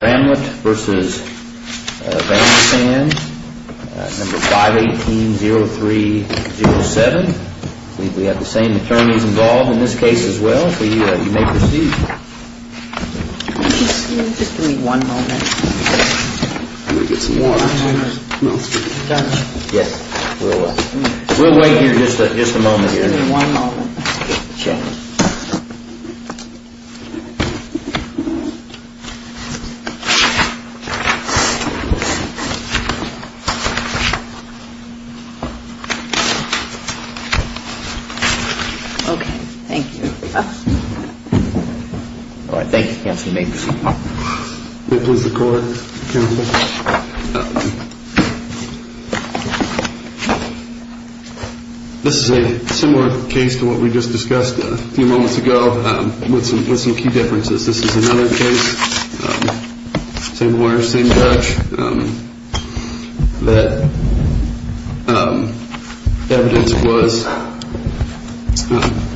No. 518-0307. We have the same attorneys involved in this case as well, so you may proceed. Just give me one moment. I'm going to get some water. Yes, we'll wait. We'll wait here just a moment here. Just give me one moment. Sure. Okay, thank you. All right, thank you, Counselor Meeks. May I please record, Counselor? This is a similar case to what we just discussed a few moments ago with some key differences. This is another case, same lawyers, same judge, that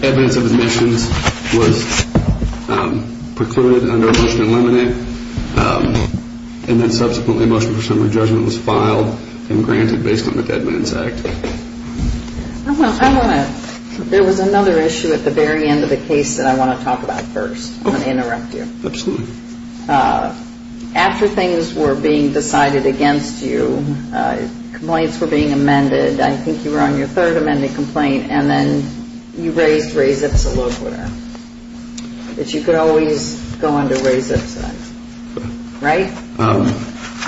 evidence of admissions was precluded under Motion to Eliminate, and then subsequently Motion for Summary Judgment was filed and granted based on the Dead Man's Act. I want to, there was another issue at the very end of the case that I want to talk about first. I'm going to interrupt you. Absolutely. After things were being decided against you, complaints were being amended. I think you were on your third amended complaint, and then you raised raise-ups a little quicker. But you could always go under raise-ups, right?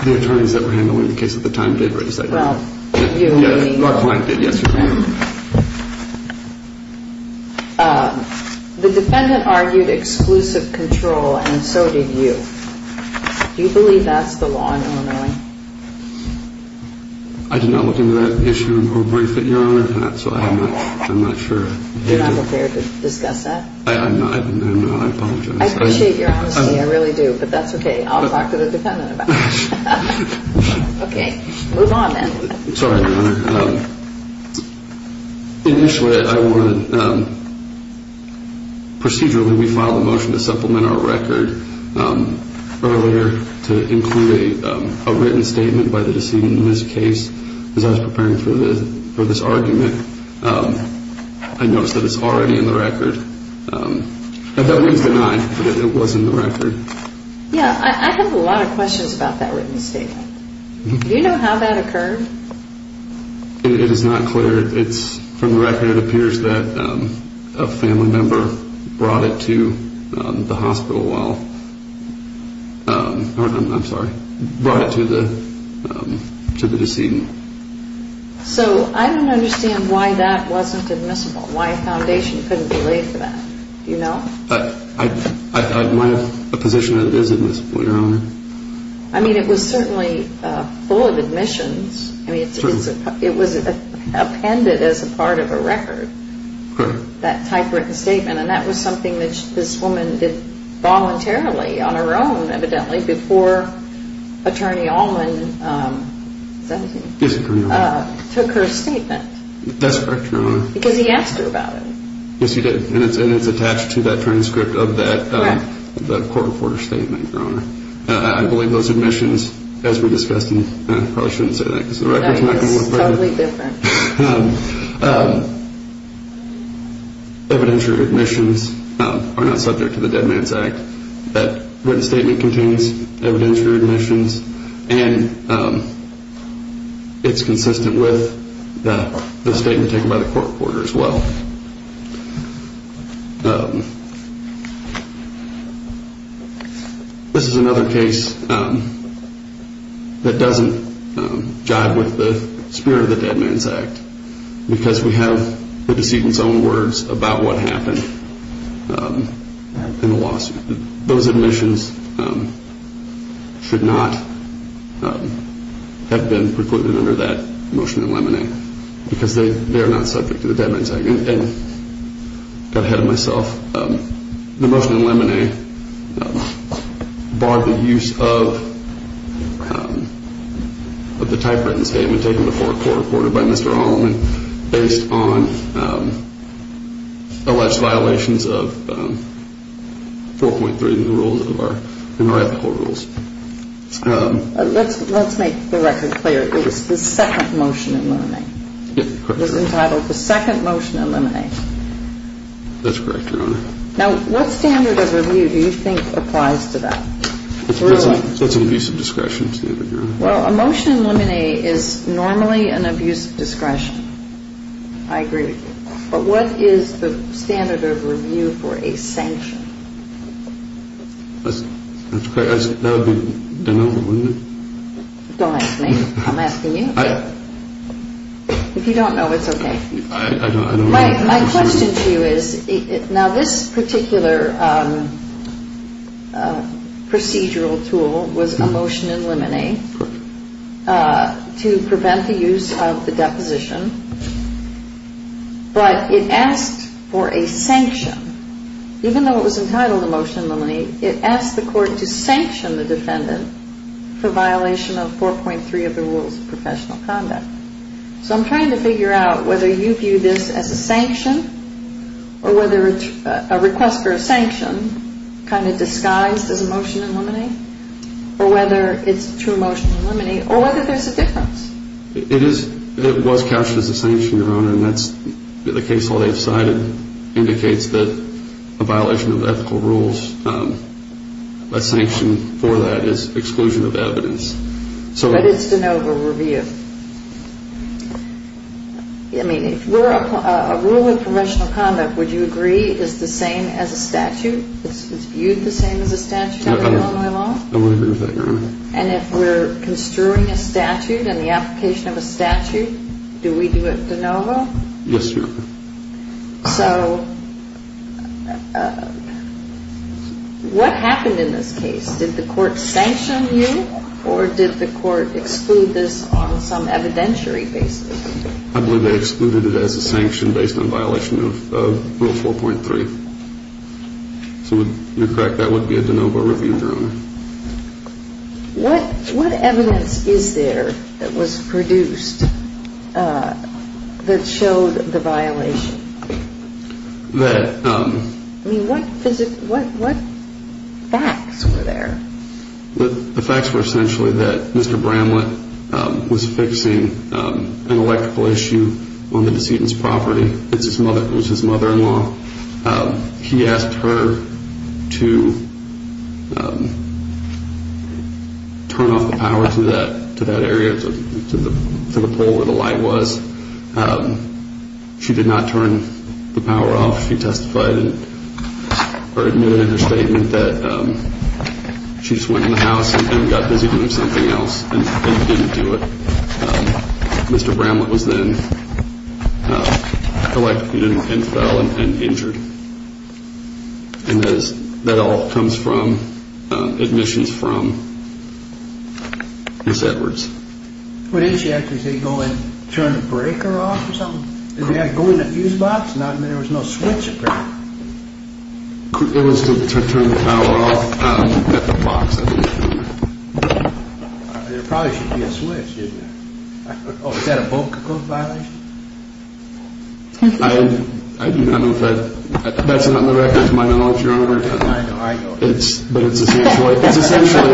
The attorneys that were handling the case at the time did raise that. Well, you and me both. Yes, my client did, yes. The defendant argued exclusive control, and so did you. Do you believe that's the law in Illinois? I did not look into that issue in the brief that Your Honor had, so I'm not sure. You're not prepared to discuss that? I'm not. I apologize. I appreciate your honesty. I really do. But that's okay. I'll talk to the defendant about it. Okay. Move on then. Sorry, Your Honor. Initially, procedurally, we filed a motion to supplement our record earlier to include a written statement by the decedent in this case. As I was preparing for this argument, I noticed that it's already in the record. That means that it was in the record. Yeah, I have a lot of questions about that written statement. Do you know how that occurred? It is not clear. It's from the record. It appears that a family member brought it to the hospital while, I'm sorry, brought it to the decedent. So I don't understand why that wasn't admissible, why a foundation couldn't be laid for that. Do you know? Am I in a position that it is admissible, Your Honor? I mean, it was certainly full of admissions. I mean, it was appended as a part of a record, that typewritten statement. And that was something that this woman did voluntarily on her own, evidently, before Attorney Allman took her statement. That's correct, Your Honor. Because he asked her about it. Yes, he did. And it's attached to that transcript of that court reporter statement, Your Honor. I believe those admissions, as we discussed, and I probably shouldn't say that because the record is not going to look very good. That is totally different. Evidentiary admissions are not subject to the Dead Man's Act. That written statement contains evidentiary admissions, and it's consistent with the statement taken by the court reporter as well. This is another case that doesn't jive with the spirit of the Dead Man's Act because we have the decedent's own words about what happened in the lawsuit. Those admissions should not have been precluded under that motion in lemonade because they are not subject to the Dead Man's Act. And I got ahead of myself. The motion in lemonade barred the use of the typewritten statement taken before a court reporter by Mr. Allman based on alleged violations of 4.3 in our ethical rules. Let's make the record clear. It was the second motion in lemonade. Yes, correct. It was entitled the second motion in lemonade. That's correct, Your Honor. Now, what standard of review do you think applies to that? That's an abuse of discretion standard, Your Honor. Well, a motion in lemonade is normally an abuse of discretion. I agree. But what is the standard of review for a sanction? That would be denouement, wouldn't it? Don't ask me. I'm asking you. I don't know. My question to you is, now, this particular procedural tool was a motion in lemonade to prevent the use of the deposition, but it asked for a sanction. Even though it was entitled a motion in lemonade, it asked the court to sanction the defendant for violation of 4.3 of the rules of professional conduct. So I'm trying to figure out whether you view this as a sanction or whether it's a request for a sanction kind of disguised as a motion in lemonade or whether it's a true motion in lemonade or whether there's a difference. It is. It was captured as a sanction, Your Honor, and that's the case law they've cited indicates that a violation of ethical rules, a sanction for that is exclusion of evidence. But it's de novo review. I mean, if we're a rule of professional conduct, would you agree it's the same as a statute? It's viewed the same as a statute under Illinois law? I would agree with that, Your Honor. And if we're construing a statute and the application of a statute, do we do it de novo? Yes, Your Honor. So what happened in this case? Did the court sanction you or did the court exclude this on some evidentiary basis? I believe they excluded it as a sanction based on violation of Rule 4.3. So you're correct. That would be a de novo review, Your Honor. What evidence is there that was produced that showed the violation? I mean, what facts were there? The facts were essentially that Mr. Bramlett was fixing an electrical issue on the decedent's property. He asked her to turn off the power to that area, to the pole where the light was. She did not turn the power off. She admitted in her statement that she just went in the house and got busy doing something else and didn't do it. Mr. Bramlett was then electrocuted and fell and injured. And that all comes from admissions from Ms. Edwards. But didn't she actually say go in and turn the breaker off or something? Go in the fuse box? I mean, there was no switch, apparently. It was to turn the power off at the box, I believe, Your Honor. Oh, is that a both-and-close violation? I do not know if that's on the record, Your Honor. I know, I know. But it's essentially,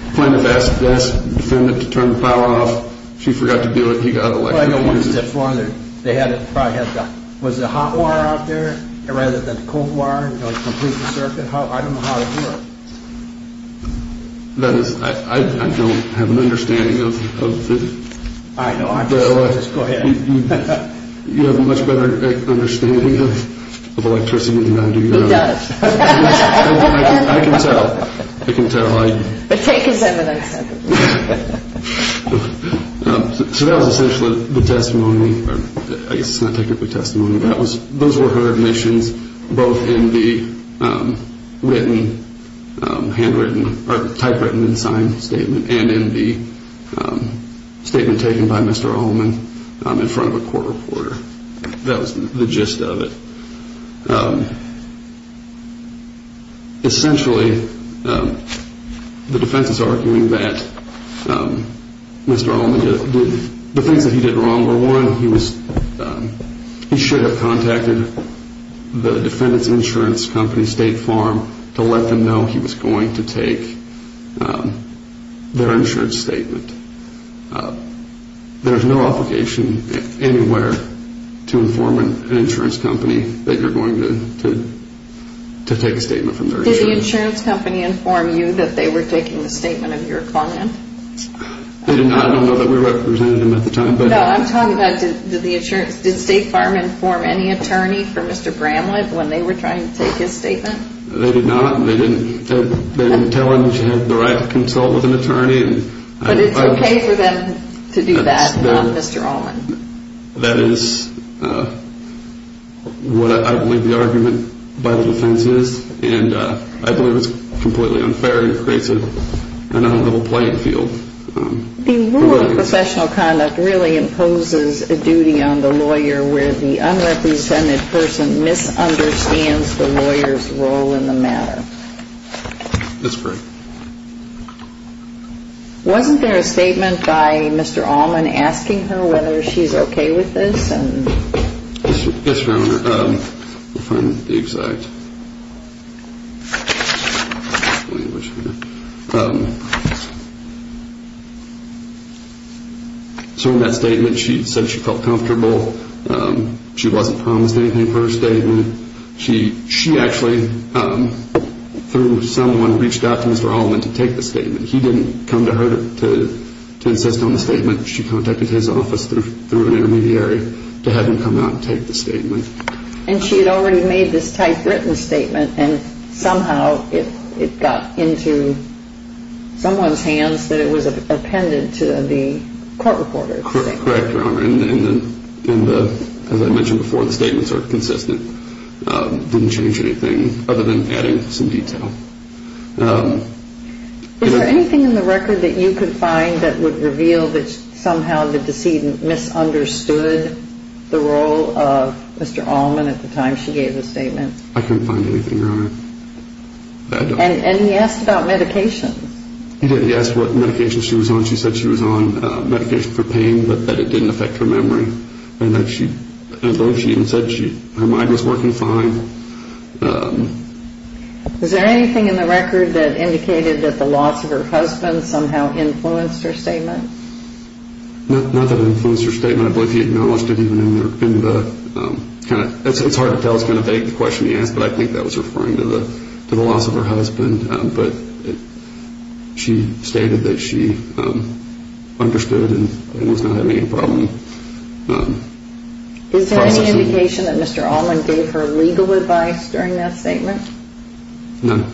he planned to ask the defendant to turn the power off. She forgot to do it. He got electrocuted. Well, I know one step further. They probably had the hot wire out there rather than the cold wire to complete the circuit. I don't know how it worked. I don't have an understanding of this. I know. Go ahead. You have a much better understanding of electricity than I do, Your Honor. Who does? I can tell. I can tell. But take his evidence. So that was essentially the testimony. I guess it's not technically testimony. Those were her admissions, both in the handwritten or typewritten and signed statement and in the statement taken by Mr. Allman in front of a court reporter. That was the gist of it. Essentially, the defense is arguing that Mr. Allman, the things that he did wrong were, one, he should have contacted the defendant's insurance company, State Farm, to let them know he was going to take their insurance statement. There's no obligation anywhere to inform an insurance company that you're going to take a statement from their insurance company. Did the insurance company inform you that they were taking the statement of your client? I don't know that we represented them at the time. No, I'm talking about did State Farm inform any attorney for Mr. Bramlett when they were trying to take his statement? They did not. They didn't tell him that he had the right to consult with an attorney. But it's okay for them to do that, not Mr. Allman. That is what I believe the argument by the defense is, and I believe it's completely unfair and aggressive and out of the whole playing field. The rule of professional conduct really imposes a duty on the lawyer where the unrepresented person misunderstands the lawyer's role in the matter. That's correct. Wasn't there a statement by Mr. Allman asking her whether she's okay with this? Yes, Your Honor. So in that statement she said she felt comfortable. She wasn't promised anything for her statement. She actually, through someone, reached out to Mr. Allman to take the statement. He didn't come to her to insist on the statement. She contacted his office through an intermediary to have him come out and take the statement. And she had already made this typewritten statement, and somehow it got into someone's hands that it was appended to the court reporter's statement. Correct, Your Honor. And as I mentioned before, the statements are consistent. It didn't change anything other than adding some detail. Is there anything in the record that you could find that would reveal that somehow the decedent misunderstood the role of Mr. Allman at the time she gave the statement? I couldn't find anything, Your Honor. And he asked about medications. He asked what medications she was on. She said she was on medication for pain, but that it didn't affect her memory. And I believe she even said her mind was working fine. Is there anything in the record that indicated that the loss of her husband somehow influenced her statement? Not that it influenced her statement. I believe he acknowledged it even in the kind of – it's hard to tell. It's kind of vague, the question he asked, but I think that was referring to the loss of her husband. But she stated that she understood and was not having any problem processing. Is there any indication that Mr. Allman gave her legal advice during that statement? None.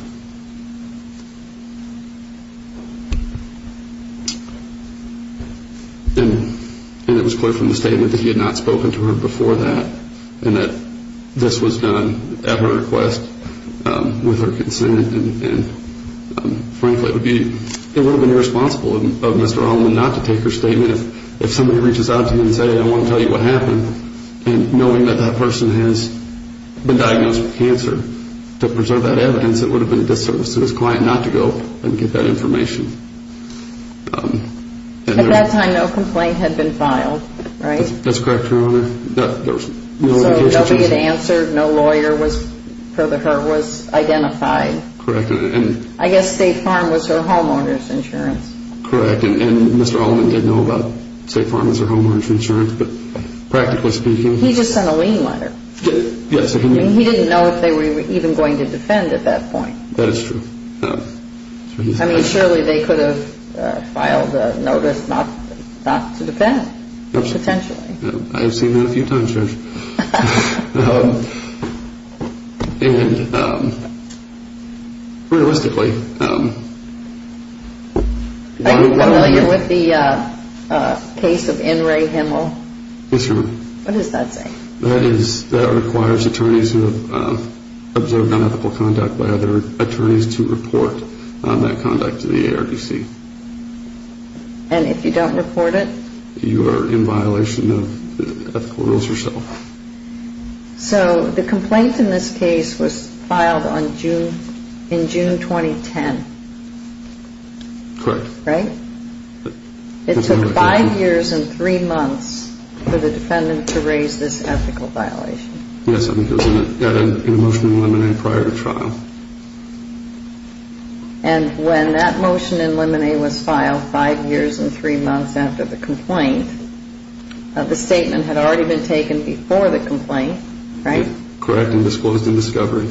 And it was clear from the statement that he had not spoken to her before that and that this was done at her request with her consent. And frankly, it would have been irresponsible of Mr. Allman not to take her statement if somebody reaches out to him and says, I want to tell you what happened. And knowing that that person has been diagnosed with cancer, to preserve that evidence, it would have been a disservice to his client not to go and get that information. At that time, no complaint had been filed, right? That's correct, Your Honor. So nobody had answered, no lawyer was identified. Correct. I guess State Farm was her homeowner's insurance. Correct. And Mr. Allman didn't know about State Farm as her homeowner's insurance, but practically speaking. He just sent a lien letter. Yes. And he didn't know if they were even going to defend at that point. That is true. I mean, surely they could have filed a notice not to defend, potentially. I've seen that a few times, Judge. And realistically. I'm familiar with the case of N. Ray Himmel. Yes, Your Honor. What does that say? That requires attorneys who have observed unethical conduct by other attorneys to report that conduct to the ARDC. And if you don't report it? You are in violation of ethical rules yourself. So the complaint in this case was filed in June 2010. Correct. Right? It took five years and three months for the defendant to raise this ethical violation. Yes, I think it was in a motion in limine prior to trial. And when that motion in limine was filed five years and three months after the complaint, the statement had already been taken before the complaint, right? Correct. And disclosed in discovery.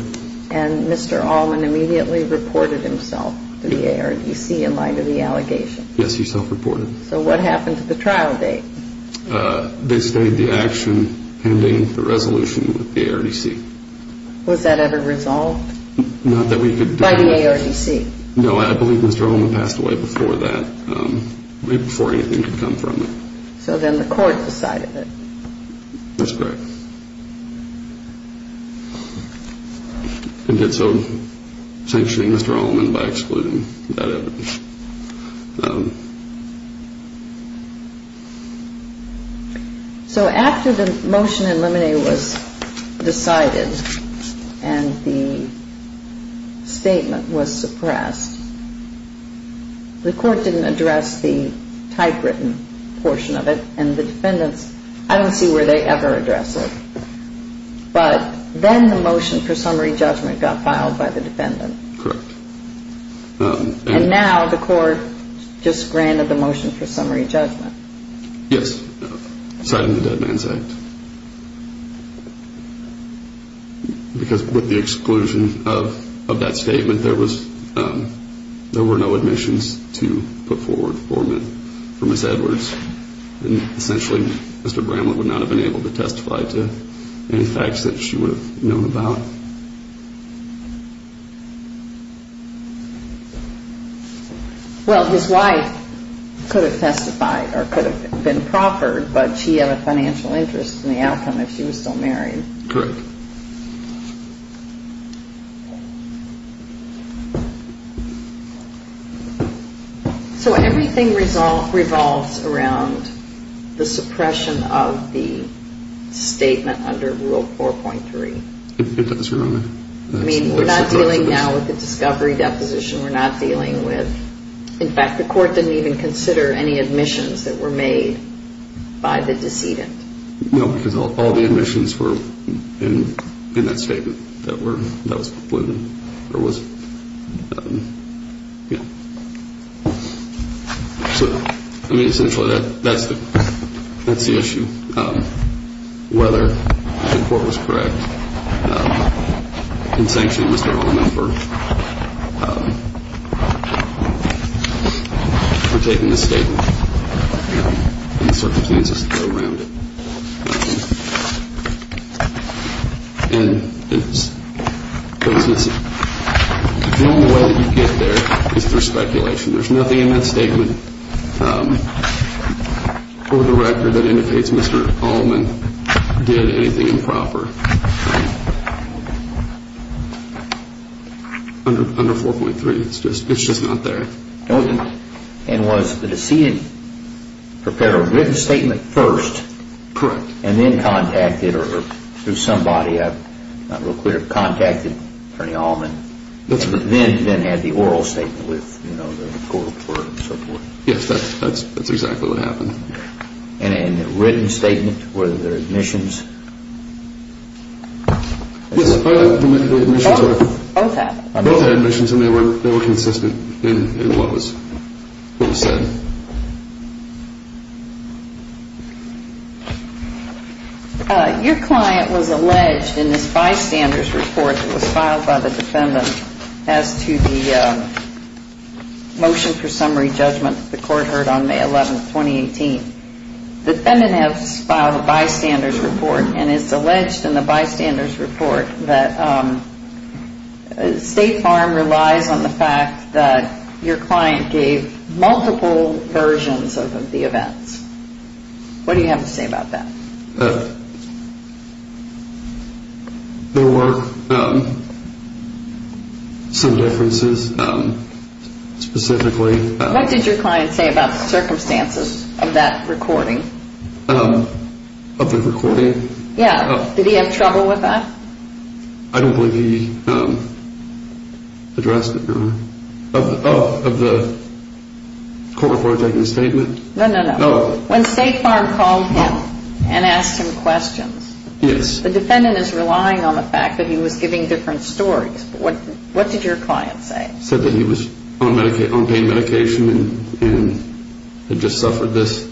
And Mr. Allman immediately reported himself to the ARDC in light of the allegation. Yes, he self-reported. So what happened to the trial date? They stayed the action pending the resolution with the ARDC. Was that ever resolved? Not that we could do that. By the ARDC? No, I believe Mr. Allman passed away before that, right before anything could come from it. So then the court decided it. That's correct. And did so sanctioning Mr. Allman by excluding that evidence. So after the motion in limine was decided and the statement was suppressed, the court didn't address the typewritten portion of it. And the defendants, I don't see where they ever address it. But then the motion for summary judgment got filed by the defendant. Correct. And now the court just granted the motion for summary judgment. Yes, citing the Dead Man's Act. Because with the exclusion of that statement, there were no admissions to put forward for Ms. Edwards. Essentially, Mr. Bramlett would not have been able to testify to any facts that she would have known about. Well, his wife could have testified or could have been proffered, but she had a financial interest in the outcome if she was still married. Correct. So everything revolves around the suppression of the statement under Rule 4.3. It does, Your Honor. I mean, we're not dealing now with the discovery deposition. We're not dealing with – in fact, the court didn't even consider any admissions that were made by the decedent. So, I mean, essentially, that's the issue. Whether the court was correct in sanctioning Mr. Holliman for taking the statement and the circumstances that go around it. And the only way that you get there is through speculation. There's nothing in that statement or the record that indicates Mr. Holliman did anything improper under 4.3. It's just not there. And was the decedent prepared a written statement first? Correct. And then contacted or through somebody, I'm not real clear, contacted Bernie Holliman? That's correct. And then had the oral statement with the court and so forth? Yes, that's exactly what happened. And a written statement, were there admissions? Yes, both had admissions and they were consistent. In what was said. Your client was alleged in this bystander's report that was filed by the defendant as to the motion for summary judgment that the court heard on May 11, 2018. The defendants filed a bystander's report and it's alleged in the bystander's report that State Farm relies on the fact that your client gave multiple versions of the events. What do you have to say about that? There were some differences specifically. What did your client say about the circumstances of that recording? Of the recording? Yeah. Did he have trouble with that? I don't believe he addressed it. Of the court report taking the statement? No, no, no. When State Farm called him and asked him questions, the defendant is relying on the fact that he was giving different stories. What did your client say? He said that he was on pain medication and had just suffered this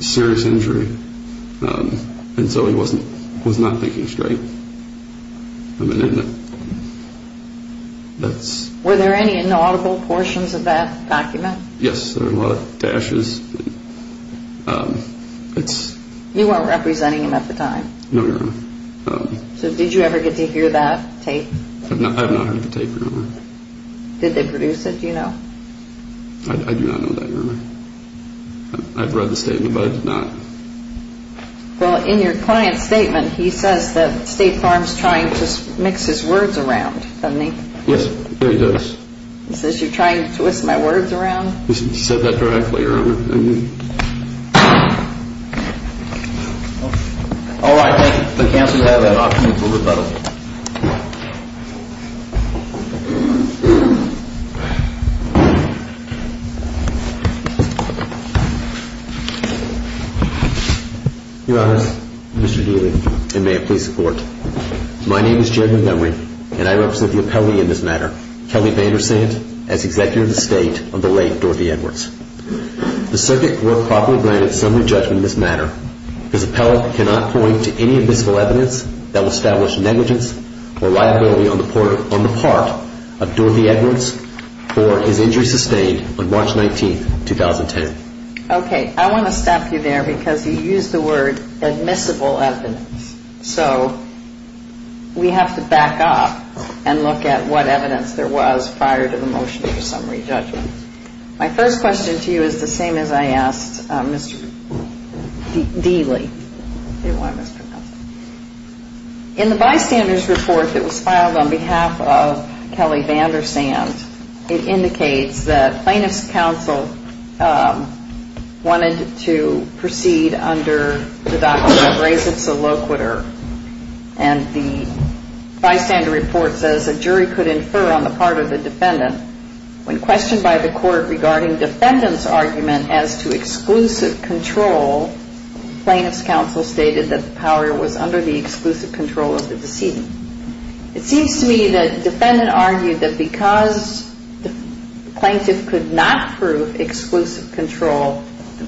serious injury and so he was not thinking straight. Were there any inaudible portions of that document? Yes, there were a lot of dashes. You weren't representing him at the time? No, ma'am. So did you ever get to hear that tape? I've not heard the tape, Your Honor. Did they produce it, do you know? I do not know that, Your Honor. I've read the statement, but I did not. Well, in your client's statement, he says that State Farm's trying to mix his words around, doesn't he? Yes, he does. He says you're trying to twist my words around? He said that directly, Your Honor. All right, thank you. The counsel has an option for rebuttal. Your Honor, Mr. Daly, and may it please the Court. My name is Jed Montgomery and I represent the appellee in this matter, Kelly VanderSand, as Executive of the State of the late Dorothy Edwards. If the circuit were properly granted summary judgment in this matter, this appellee cannot point to any admissible evidence that would establish negligence or liability on the part of Dorothy Edwards or his injury sustained on March 19, 2010. Okay, I want to stop you there because you used the word admissible evidence. So we have to back up and look at what evidence there was prior to the motion for summary judgment. My first question to you is the same as I asked Mr. Daly. In the bystander's report that was filed on behalf of Kelly VanderSand, it indicates that plaintiff's counsel wanted to proceed under the doctrine of res et saloquitur. And the bystander report says a jury could infer on the part of the defendant when questioned by the court regarding defendant's argument as to exclusive control, plaintiff's counsel stated that the power was under the exclusive control of the deceased. It seems to me that the defendant argued that because the plaintiff could not prove exclusive control,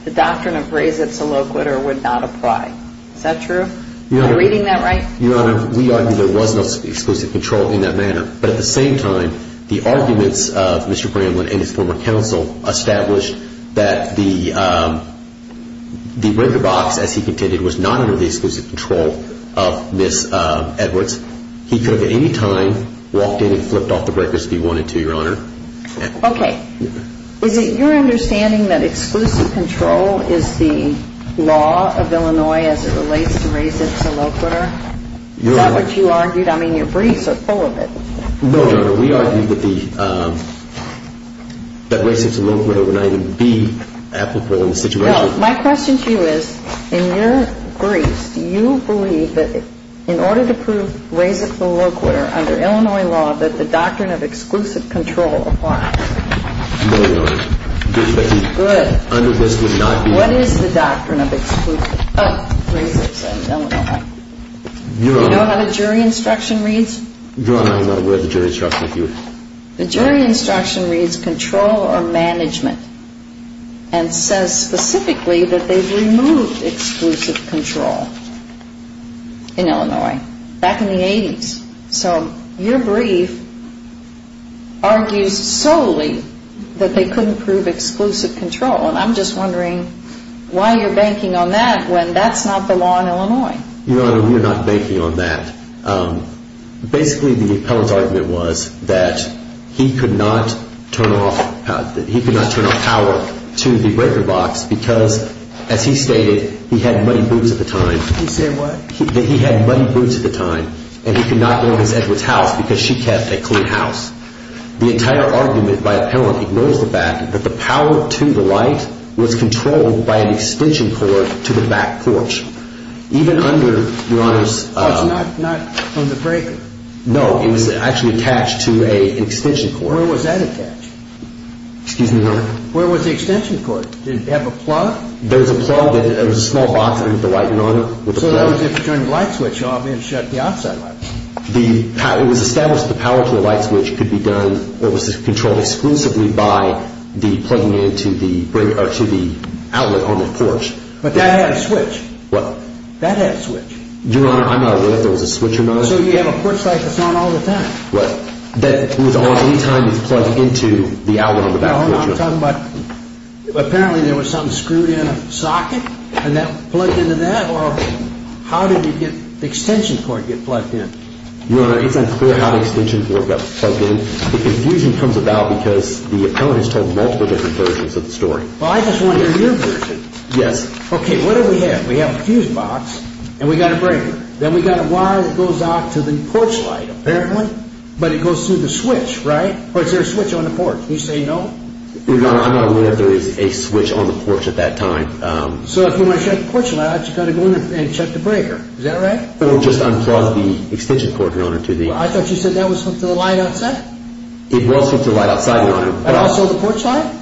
the doctrine of res et saloquitur would not apply. Is that true? Am I reading that right? Your Honor, we argue there was no exclusive control in that manner. But at the same time, the arguments of Mr. Bramlin and his former counsel established that the breaker box, as he contended, was not under the exclusive control of Ms. Edwards. He could have at any time walked in and flipped off the breakers if he wanted to, Your Honor. Okay. Is it your understanding that exclusive control is the law of Illinois as it relates to res et saloquitur? Is that what you argued? I mean, your briefs are full of it. No, Your Honor. We argued that res et saloquitur would not even be applicable in the situation. My question to you is, in your briefs, do you believe that in order to prove res et saloquitur under Illinois law, that the doctrine of exclusive control applies? No, Your Honor. Good. Under this would not be. What is the doctrine of exclusive, of res et saloquitur in Illinois? Your Honor. Do you know how the jury instruction reads? Your Honor, I'm not aware of the jury instruction. The jury instruction reads control or management and says specifically that they've removed exclusive control in Illinois back in the 80s. So your brief argues solely that they couldn't prove exclusive control, and I'm just wondering why you're banking on that when that's not the law in Illinois. Your Honor, we're not banking on that. Basically, the appellant's argument was that he could not turn off power to the breaker box because, as he stated, he had muddy boots at the time. He said what? That he had muddy boots at the time, and he could not own his Edwards house because she kept a clean house. The entire argument by appellant ignores the fact that the power to the light was controlled by an extension cord to the back porch. Even under, Your Honor's Oh, it's not from the breaker. No, it was actually attached to an extension cord. Where was that attached? Excuse me, Your Honor. Where was the extension cord? Did it have a plug? There was a plug. It was a small box with the light, Your Honor. So that was if you turned the light switch off and shut the outside light. It was established that the power to the light switch could be done or was controlled exclusively by the plugging into the outlet on the porch. But that had a switch. What? That had a switch. Your Honor, I'm not aware if there was a switch or not. So you have a porch light that's on all the time. What? That was on any time it was plugged into the outlet on the back porch. No, I'm talking about apparently there was something screwed in a socket and that plugged into that, or how did the extension cord get plugged in? Your Honor, it's unclear how the extension cord got plugged in. The confusion comes about because the appellant has told multiple different versions of the story. Well, I just want to hear your version. Yes. Okay, what do we have? We have a fuse box and we've got a breaker. Then we've got a wire that goes out to the porch light apparently, but it goes through the switch, right? Or is there a switch on the porch? Can you say no? Your Honor, I'm not aware if there is a switch on the porch at that time. So if you want to shut the porch light, you've got to go in there and shut the breaker. Is that right? Or just unplug the extension cord, Your Honor. I thought you said that was hooked to the light outside? It was hooked to the light outside, Your Honor. And also the porch light?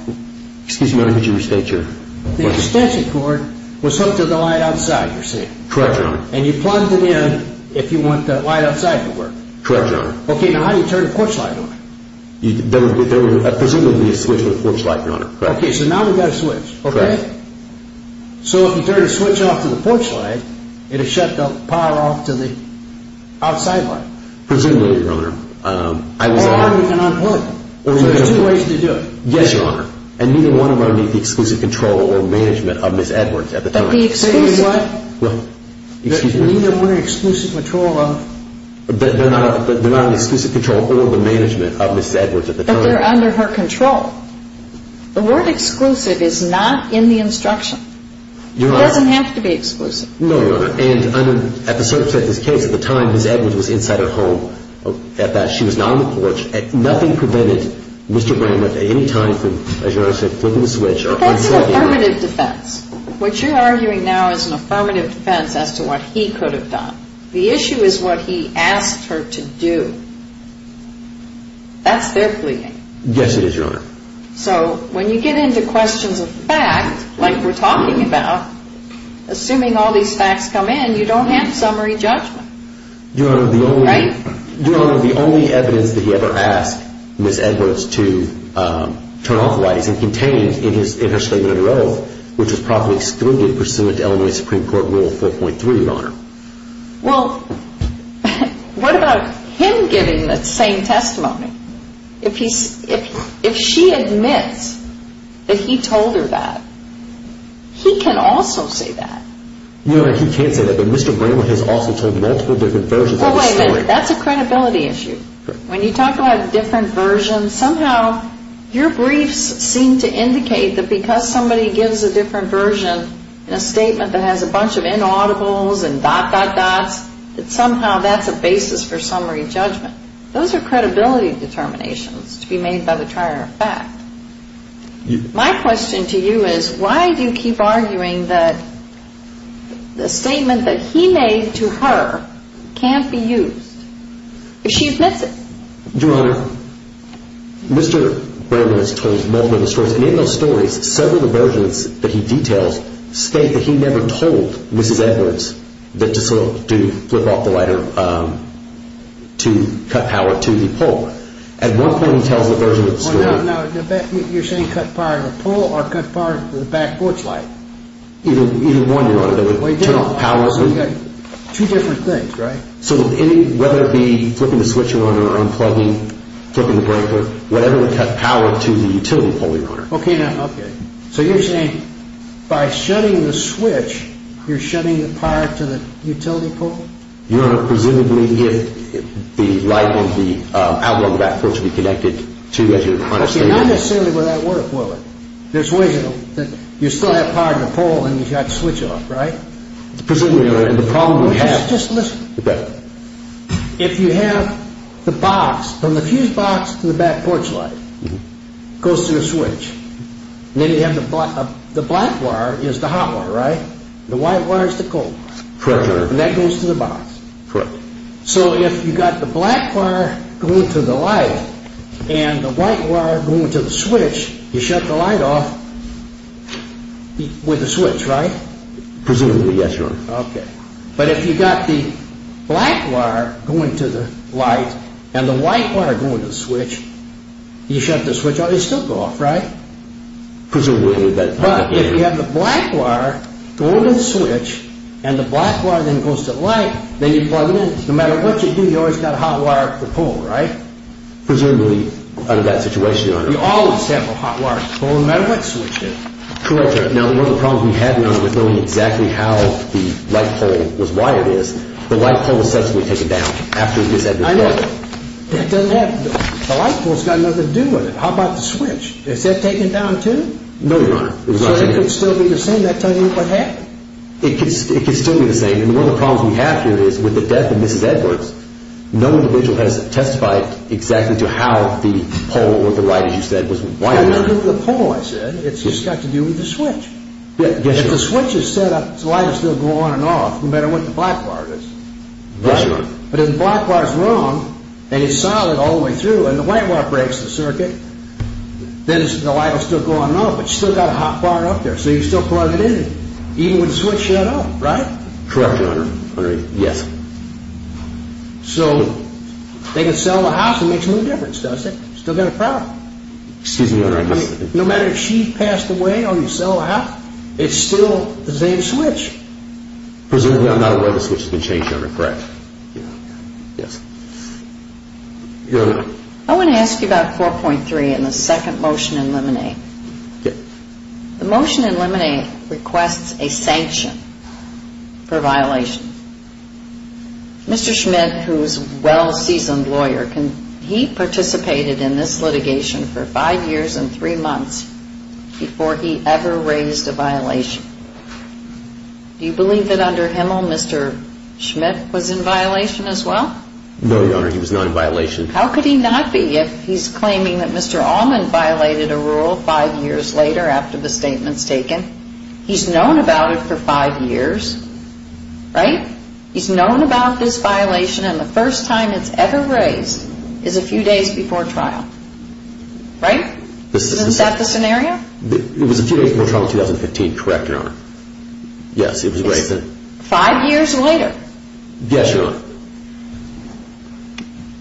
Excuse me, Your Honor, could you restate your question? The extension cord was hooked to the light outside, you're saying? Correct, Your Honor. And you plugged it in if you want the light outside to work? Correct, Your Honor. Okay, now how do you turn the porch light on? There would presumably be a switch to the porch light, Your Honor. Okay, so now we've got a switch, okay? Correct. So if you turn the switch off to the porch light, it would shut the power off to the outside light? Presumably, Your Honor. Or how do you unplug it? There's two ways to do it. Yes, Your Honor. And neither one of them meet the exclusive control or management of Ms. Edwards at the time. But the exclusive what? What? Excuse me? Neither were in exclusive control of? They're not in exclusive control or the management of Ms. Edwards at the time. But they're under her control. The word exclusive is not in the instruction. Your Honor. It doesn't have to be exclusive. No, Your Honor. And at the circumstance of this case, at the time Ms. Edwards was inside her home, she was not on the porch, and nothing prevented Mr. Bramlett at any time from, as Your Honor said, flipping the switch. That's an affirmative defense. What you're arguing now is an affirmative defense as to what he could have done. The issue is what he asked her to do. That's their pleading. Yes, it is, Your Honor. So when you get into questions of fact, like we're talking about, assuming all these facts come in, you don't have summary judgment. Your Honor, the only evidence that he ever asked Ms. Edwards to turn off the lights is contained in her statement of her oath, which was properly excluded pursuant to Illinois Supreme Court Rule 4.3, Your Honor. Well, what about him giving that same testimony? If she admits that he told her that, he can also say that. Your Honor, he can't say that, but Mr. Bramlett has also told multiple different versions of the story. Well, wait a minute. That's a credibility issue. When you talk about different versions, somehow your briefs seem to indicate that because somebody gives a different version in a statement that has a bunch of inaudibles and dot, dot, dots, that somehow that's a basis for summary judgment. Those are credibility determinations to be made by the trier of fact. My question to you is why do you keep arguing that the statement that he made to her can't be used if she admits it? Your Honor, Mr. Bramlett has told multiple different stories, and in those stories, several of the versions that he details state that he never told Mrs. Edwards to flip off the lighter, to cut power to the pole. At one point, he tells the version of the story. Now, you're saying cut power to the pole or cut power to the back porch light? Either one, Your Honor. Well, you've got two different things, right? So whether it be flipping the switch on or unplugging, flipping the breaker, whatever would cut power to the utility pole, Your Honor. Okay. So you're saying by shutting the switch, you're shutting the power to the utility pole? Your Honor, presumably if the light in the outlet of the back porch would be connected to as you're trying to say. Okay, not necessarily without water coiling. There's ways that you still have power in the pole and you've got to switch it off, right? Presumably, Your Honor, and the problem we have. Just listen. Okay. If you have the box, from the fuse box to the back porch light, goes to the switch, and then you have the black wire is the hot wire, right? The white wire is the cold wire. Correct, Your Honor. And that goes to the box. Correct. So if you've got the black wire going to the light and the white wire going to the switch, you shut the light off with the switch, right? Presumably, yes, Your Honor. Okay. But if you've got the black wire going to the light and the white wire going to the switch, you shut the switch off. They still go off, right? Presumably. But if you have the black wire going to the switch and the black wire then goes to the light, then you plug it in. No matter what you do, you've always got a hot wire to the pole, right? Presumably, under that situation, Your Honor. You always have a hot wire to the pole, no matter what switch it is. Correct, Your Honor. Now, one of the problems we had, Your Honor, with knowing exactly how the light pole was wired is, the light pole was subsequently taken down after this had been plugged in. I know. That doesn't have to do with it. The light pole's got nothing to do with it. How about the switch? Is that taken down too? No, Your Honor. It was not taken down. So it could still be the same that time, even if it happened? It could still be the same. And one of the problems we have here is, with the death of Mrs. Edwards, no individual has testified exactly to how the pole or the light, as you said, was wired. It doesn't have to do with the pole, I said. It's got to do with the switch. Yes, Your Honor. If the switch is set up so the light will still go on and off, no matter what the black wire is. Yes, Your Honor. But if the black wire's wrong, and it's solid all the way through, and the white wire breaks the circuit, then the light will still go on and off, but you've still got a hot wire up there. So you still plug it in, even with the switch shut off, right? Correct, Your Honor. Yes. So they can sell the house. It makes no difference, does it? Still got a problem. Excuse me, Your Honor. No matter if she passed away or you sell the house, it's still the same switch. Presumably I'm not aware the switch has been changed, Your Honor. Correct. Yes. Your Honor. I want to ask you about 4.3 and the second motion in limine. Yes. The motion in limine requests a sanction for violation. Mr. Schmidt, who is a well-seasoned lawyer, he participated in this litigation for five years and three months before he ever raised a violation. Do you believe that under Himmel Mr. Schmidt was in violation as well? No, Your Honor, he was not in violation. How could he not be if he's claiming that Mr. Allman violated a rule five years later after the statement's taken? He's known about it for five years, right? He's known about this violation and the first time it's ever raised is a few days before trial, right? Isn't that the scenario? It was a few days before trial in 2015, correct, Your Honor. Yes, it was raised then. Five years later? Yes, Your Honor.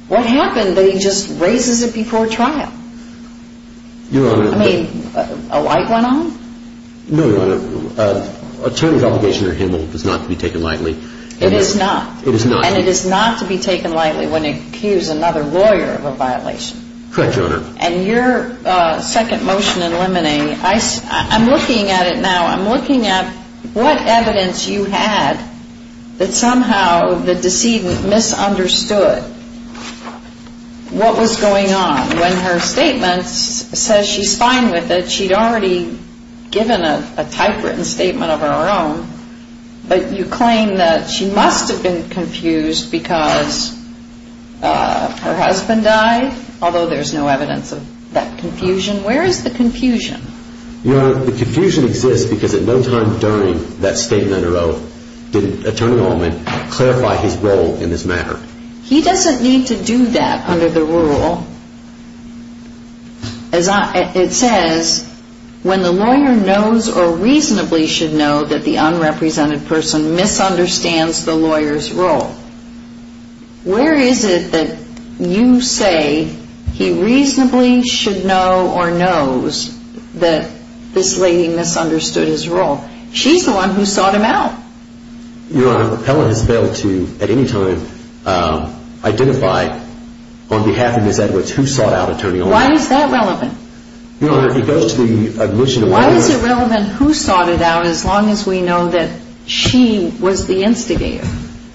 What happened that he just raises it before trial? Your Honor. I mean, a light went on? No, Your Honor. Attorney's obligation under Himmel is not to be taken lightly. It is not? It is not. And it is not to be taken lightly when you accuse another lawyer of a violation? Correct, Your Honor. And your second motion in limine, I'm looking at it now. I'm looking at what evidence you had that somehow the decedent misunderstood what was going on. When her statement says she's fine with it, she'd already given a typewritten statement of her own, but you claim that she must have been confused because her husband died, although there's no evidence of that confusion. Where is the confusion? Your Honor, the confusion exists because at no time during that statement or oath did Attorney Altman clarify his role in this matter. He doesn't need to do that under the rule. It says, when the lawyer knows or reasonably should know that the unrepresented person misunderstands the lawyer's role. Where is it that you say he reasonably should know or knows that this lady misunderstood his role? She's the one who sought him out. Your Honor, the appellant has failed to, at any time, identify on behalf of Ms. Edwards who sought out Attorney Altman. Why is that relevant? Your Honor, it goes to the admission of the lawyer. Why is it relevant who sought it out as long as we know that she was the instigator?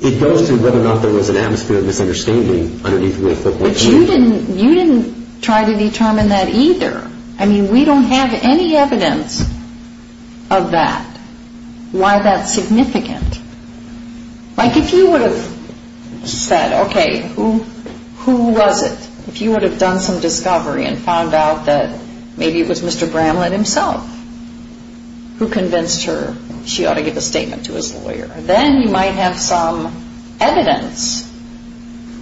It goes to whether or not there was an atmosphere of misunderstanding underneath the affiliation. But you didn't try to determine that either. I mean, we don't have any evidence of that. Why is that significant? Like, if you would have said, okay, who was it? If you would have done some discovery and found out that maybe it was Mr. Bramlett himself who convinced her she ought to give a statement to his lawyer, then you might have some evidence.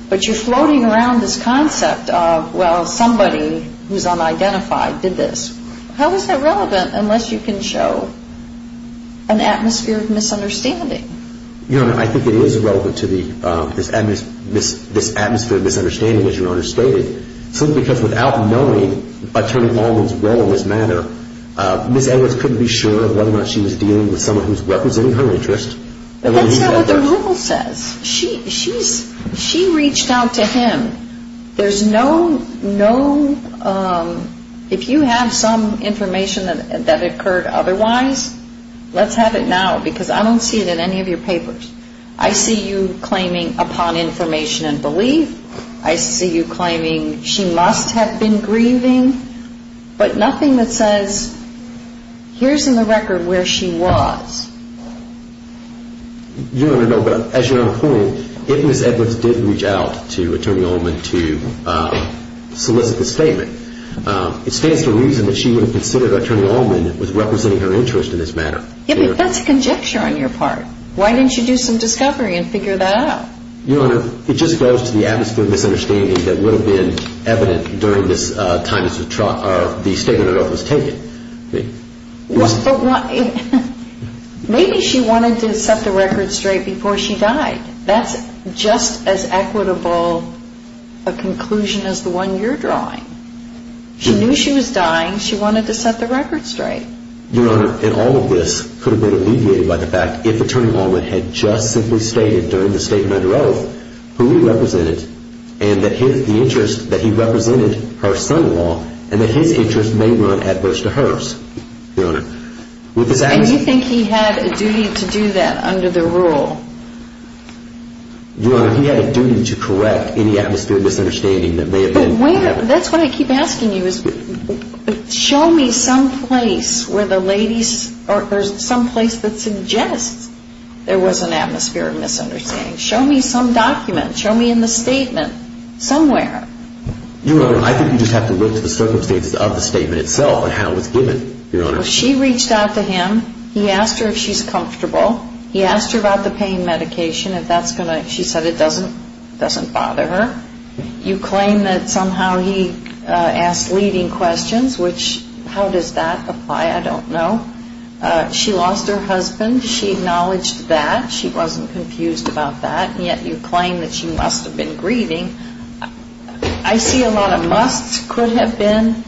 But you're floating around this concept of, well, somebody who's unidentified did this. How is that relevant unless you can show an atmosphere of misunderstanding? Your Honor, I think it is relevant to this atmosphere of misunderstanding, as Your Honor stated, simply because without knowing Attorney Altman's role in this matter, Ms. Edwards couldn't be sure of whether or not she was dealing with someone who's representing her interest. That's not what the rule says. She reached out to him. There's no, no, if you have some information that occurred otherwise, let's have it now because I don't see it in any of your papers. I see you claiming upon information and belief. I see you claiming she must have been grieving, but nothing that says, here's in the record where she was. Your Honor, no, but as Your Honor pointed, if Ms. Edwards did reach out to Attorney Altman to solicit the statement, it stands to reason that she would have considered Attorney Altman was representing her interest in this matter. Yeah, but that's a conjecture on your part. Why didn't you do some discovery and figure that out? Your Honor, it just goes to the atmosphere of misunderstanding that would have been evident during this time the statement of oath was taken. Maybe she wanted to set the record straight before she died. That's just as equitable a conclusion as the one you're drawing. She knew she was dying. She wanted to set the record straight. Your Honor, and all of this could have been alleviated by the fact if Attorney Altman had just simply stated during the statement under oath who he represented and that he represented her son-in-law and that his interest may run adverse to hers. And you think he had a duty to do that under the rule? Your Honor, he had a duty to correct any atmosphere of misunderstanding that may have been. That's what I keep asking you is show me some place where the ladies or some place that suggests there was an atmosphere of misunderstanding. Show me some document. Show me in the statement somewhere. Your Honor, I think you just have to look to the circumstances of the statement itself and how it was given, Your Honor. Well, she reached out to him. He asked her if she's comfortable. He asked her about the pain medication, if that's going to, she said it doesn't bother her. You claim that somehow he asked leading questions, which how does that apply? I don't know. She lost her husband. She acknowledged that. She wasn't confused about that. And yet you claim that she must have been grieving. I see a lot of musts. Could have been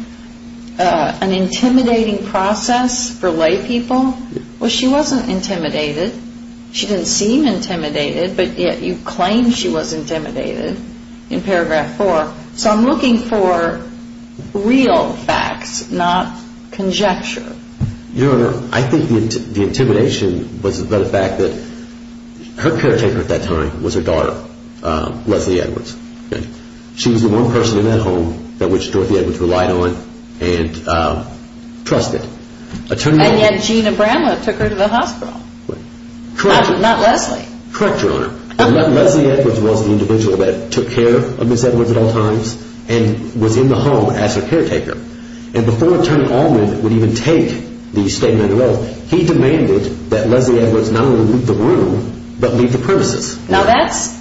an intimidating process for lay people. Well, she wasn't intimidated. She didn't seem intimidated. But yet you claim she was intimidated in paragraph four. So I'm looking for real facts, not conjecture. Your Honor, I think the intimidation was about the fact that her caretaker at that time was her daughter, Leslie Edwards. She was the one person in that home that Dorothy Edwards relied on and trusted. And yet Gina Bramlett took her to the hospital. Correct. Not Leslie. Correct, Your Honor. Leslie Edwards was the individual that took care of Ms. Edwards at all times and was in the home as her caretaker. And before Attorney Allman would even take the statement of the oath, he demanded that Leslie Edwards not only leave the room but leave the premises. Now, that's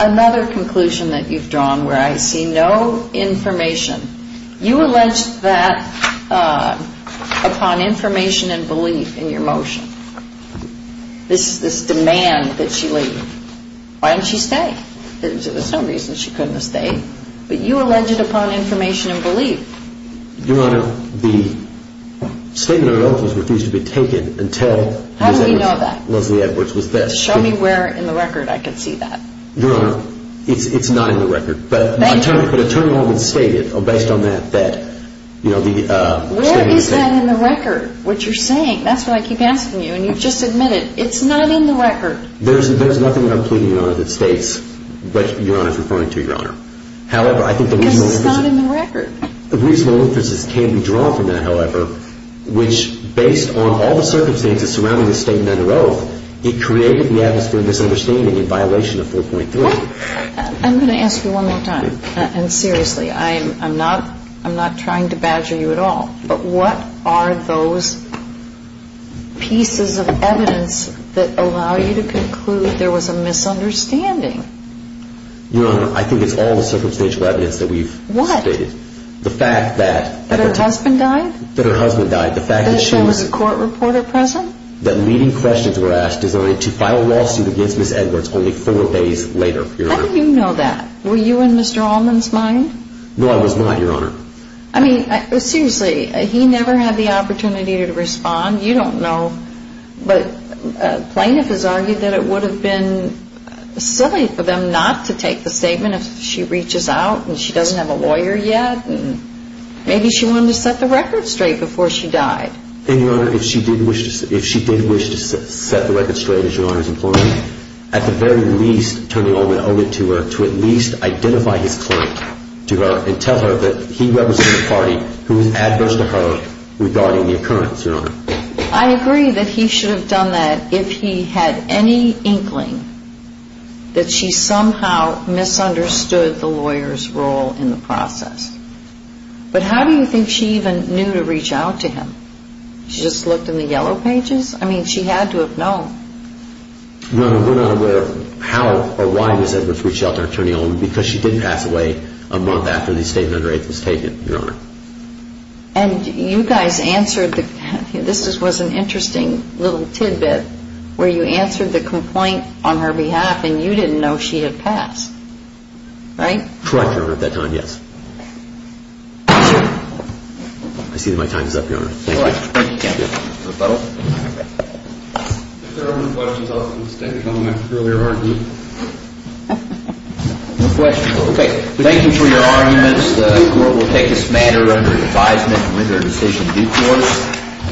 another conclusion that you've drawn where I see no information. You allege that upon information and belief in your motion. This demand that she leave. Why didn't she stay? There's no reason she couldn't have stayed. But you allege it upon information and belief. Your Honor, the statement of the oath was refused to be taken until Ms. Edwards. How do we know that? Leslie Edwards was there. Show me where in the record I can see that. Your Honor, it's not in the record. Thank you. But Attorney Allman stated based on that that, you know, the statement was taken. Where is that in the record, what you're saying? That's what I keep asking you, and you've just admitted it's not in the record. There's nothing I'm pleading, Your Honor, that states what Your Honor is referring to, Your Honor. However, I think the reasonable inferences. Because it's not in the record. The reasonable inferences can be drawn from that, however, which based on all the circumstances surrounding the statement of the oath, it created the atmosphere of misunderstanding in violation of 4.3. I'm going to ask you one more time, and seriously, I'm not trying to badger you at all. But what are those pieces of evidence that allow you to conclude there was a misunderstanding? Your Honor, I think it's all the circumstantial evidence that we've stated. What? The fact that. That her husband died? That her husband died. The fact that she was. That there was a court reporter present? That leading questions were asked designed to file a lawsuit against Ms. Edwards only four days later, Your Honor. How do you know that? Were you in Mr. Allman's mind? No, I was not, Your Honor. I mean, seriously, he never had the opportunity to respond. You don't know. But plaintiff has argued that it would have been silly for them not to take the statement if she reaches out and she doesn't have a lawyer yet. And maybe she wanted to set the record straight before she died. And, Your Honor, if she did wish to set the record straight, as Your Honor is imploring, at the very least turn it over to her to at least identify his claim to her and tell her that he represents a party who is adverse to her regarding the occurrence, Your Honor. I agree that he should have done that if he had any inkling that she somehow misunderstood the lawyer's role in the process. But how do you think she even knew to reach out to him? She just looked in the yellow pages? I mean, she had to have known. Your Honor, we're not aware of how or why Ms. Edwards reached out to her attorney, Allman, because she didn't pass away a month after the statement under it was taken, Your Honor. And you guys answered the – this was an interesting little tidbit where you answered the complaint on her behalf and you didn't know she had passed, right? Correct, Your Honor, at that time, yes. I see that my time is up, Your Honor. Thank you. All right. Thank you, counsel. Mr. O'Donnell? If there are no questions, I'll just take a comment from earlier argument. No questions. Okay. Thank you for your arguments. The court will take this matter under advisement and render a decision in due course.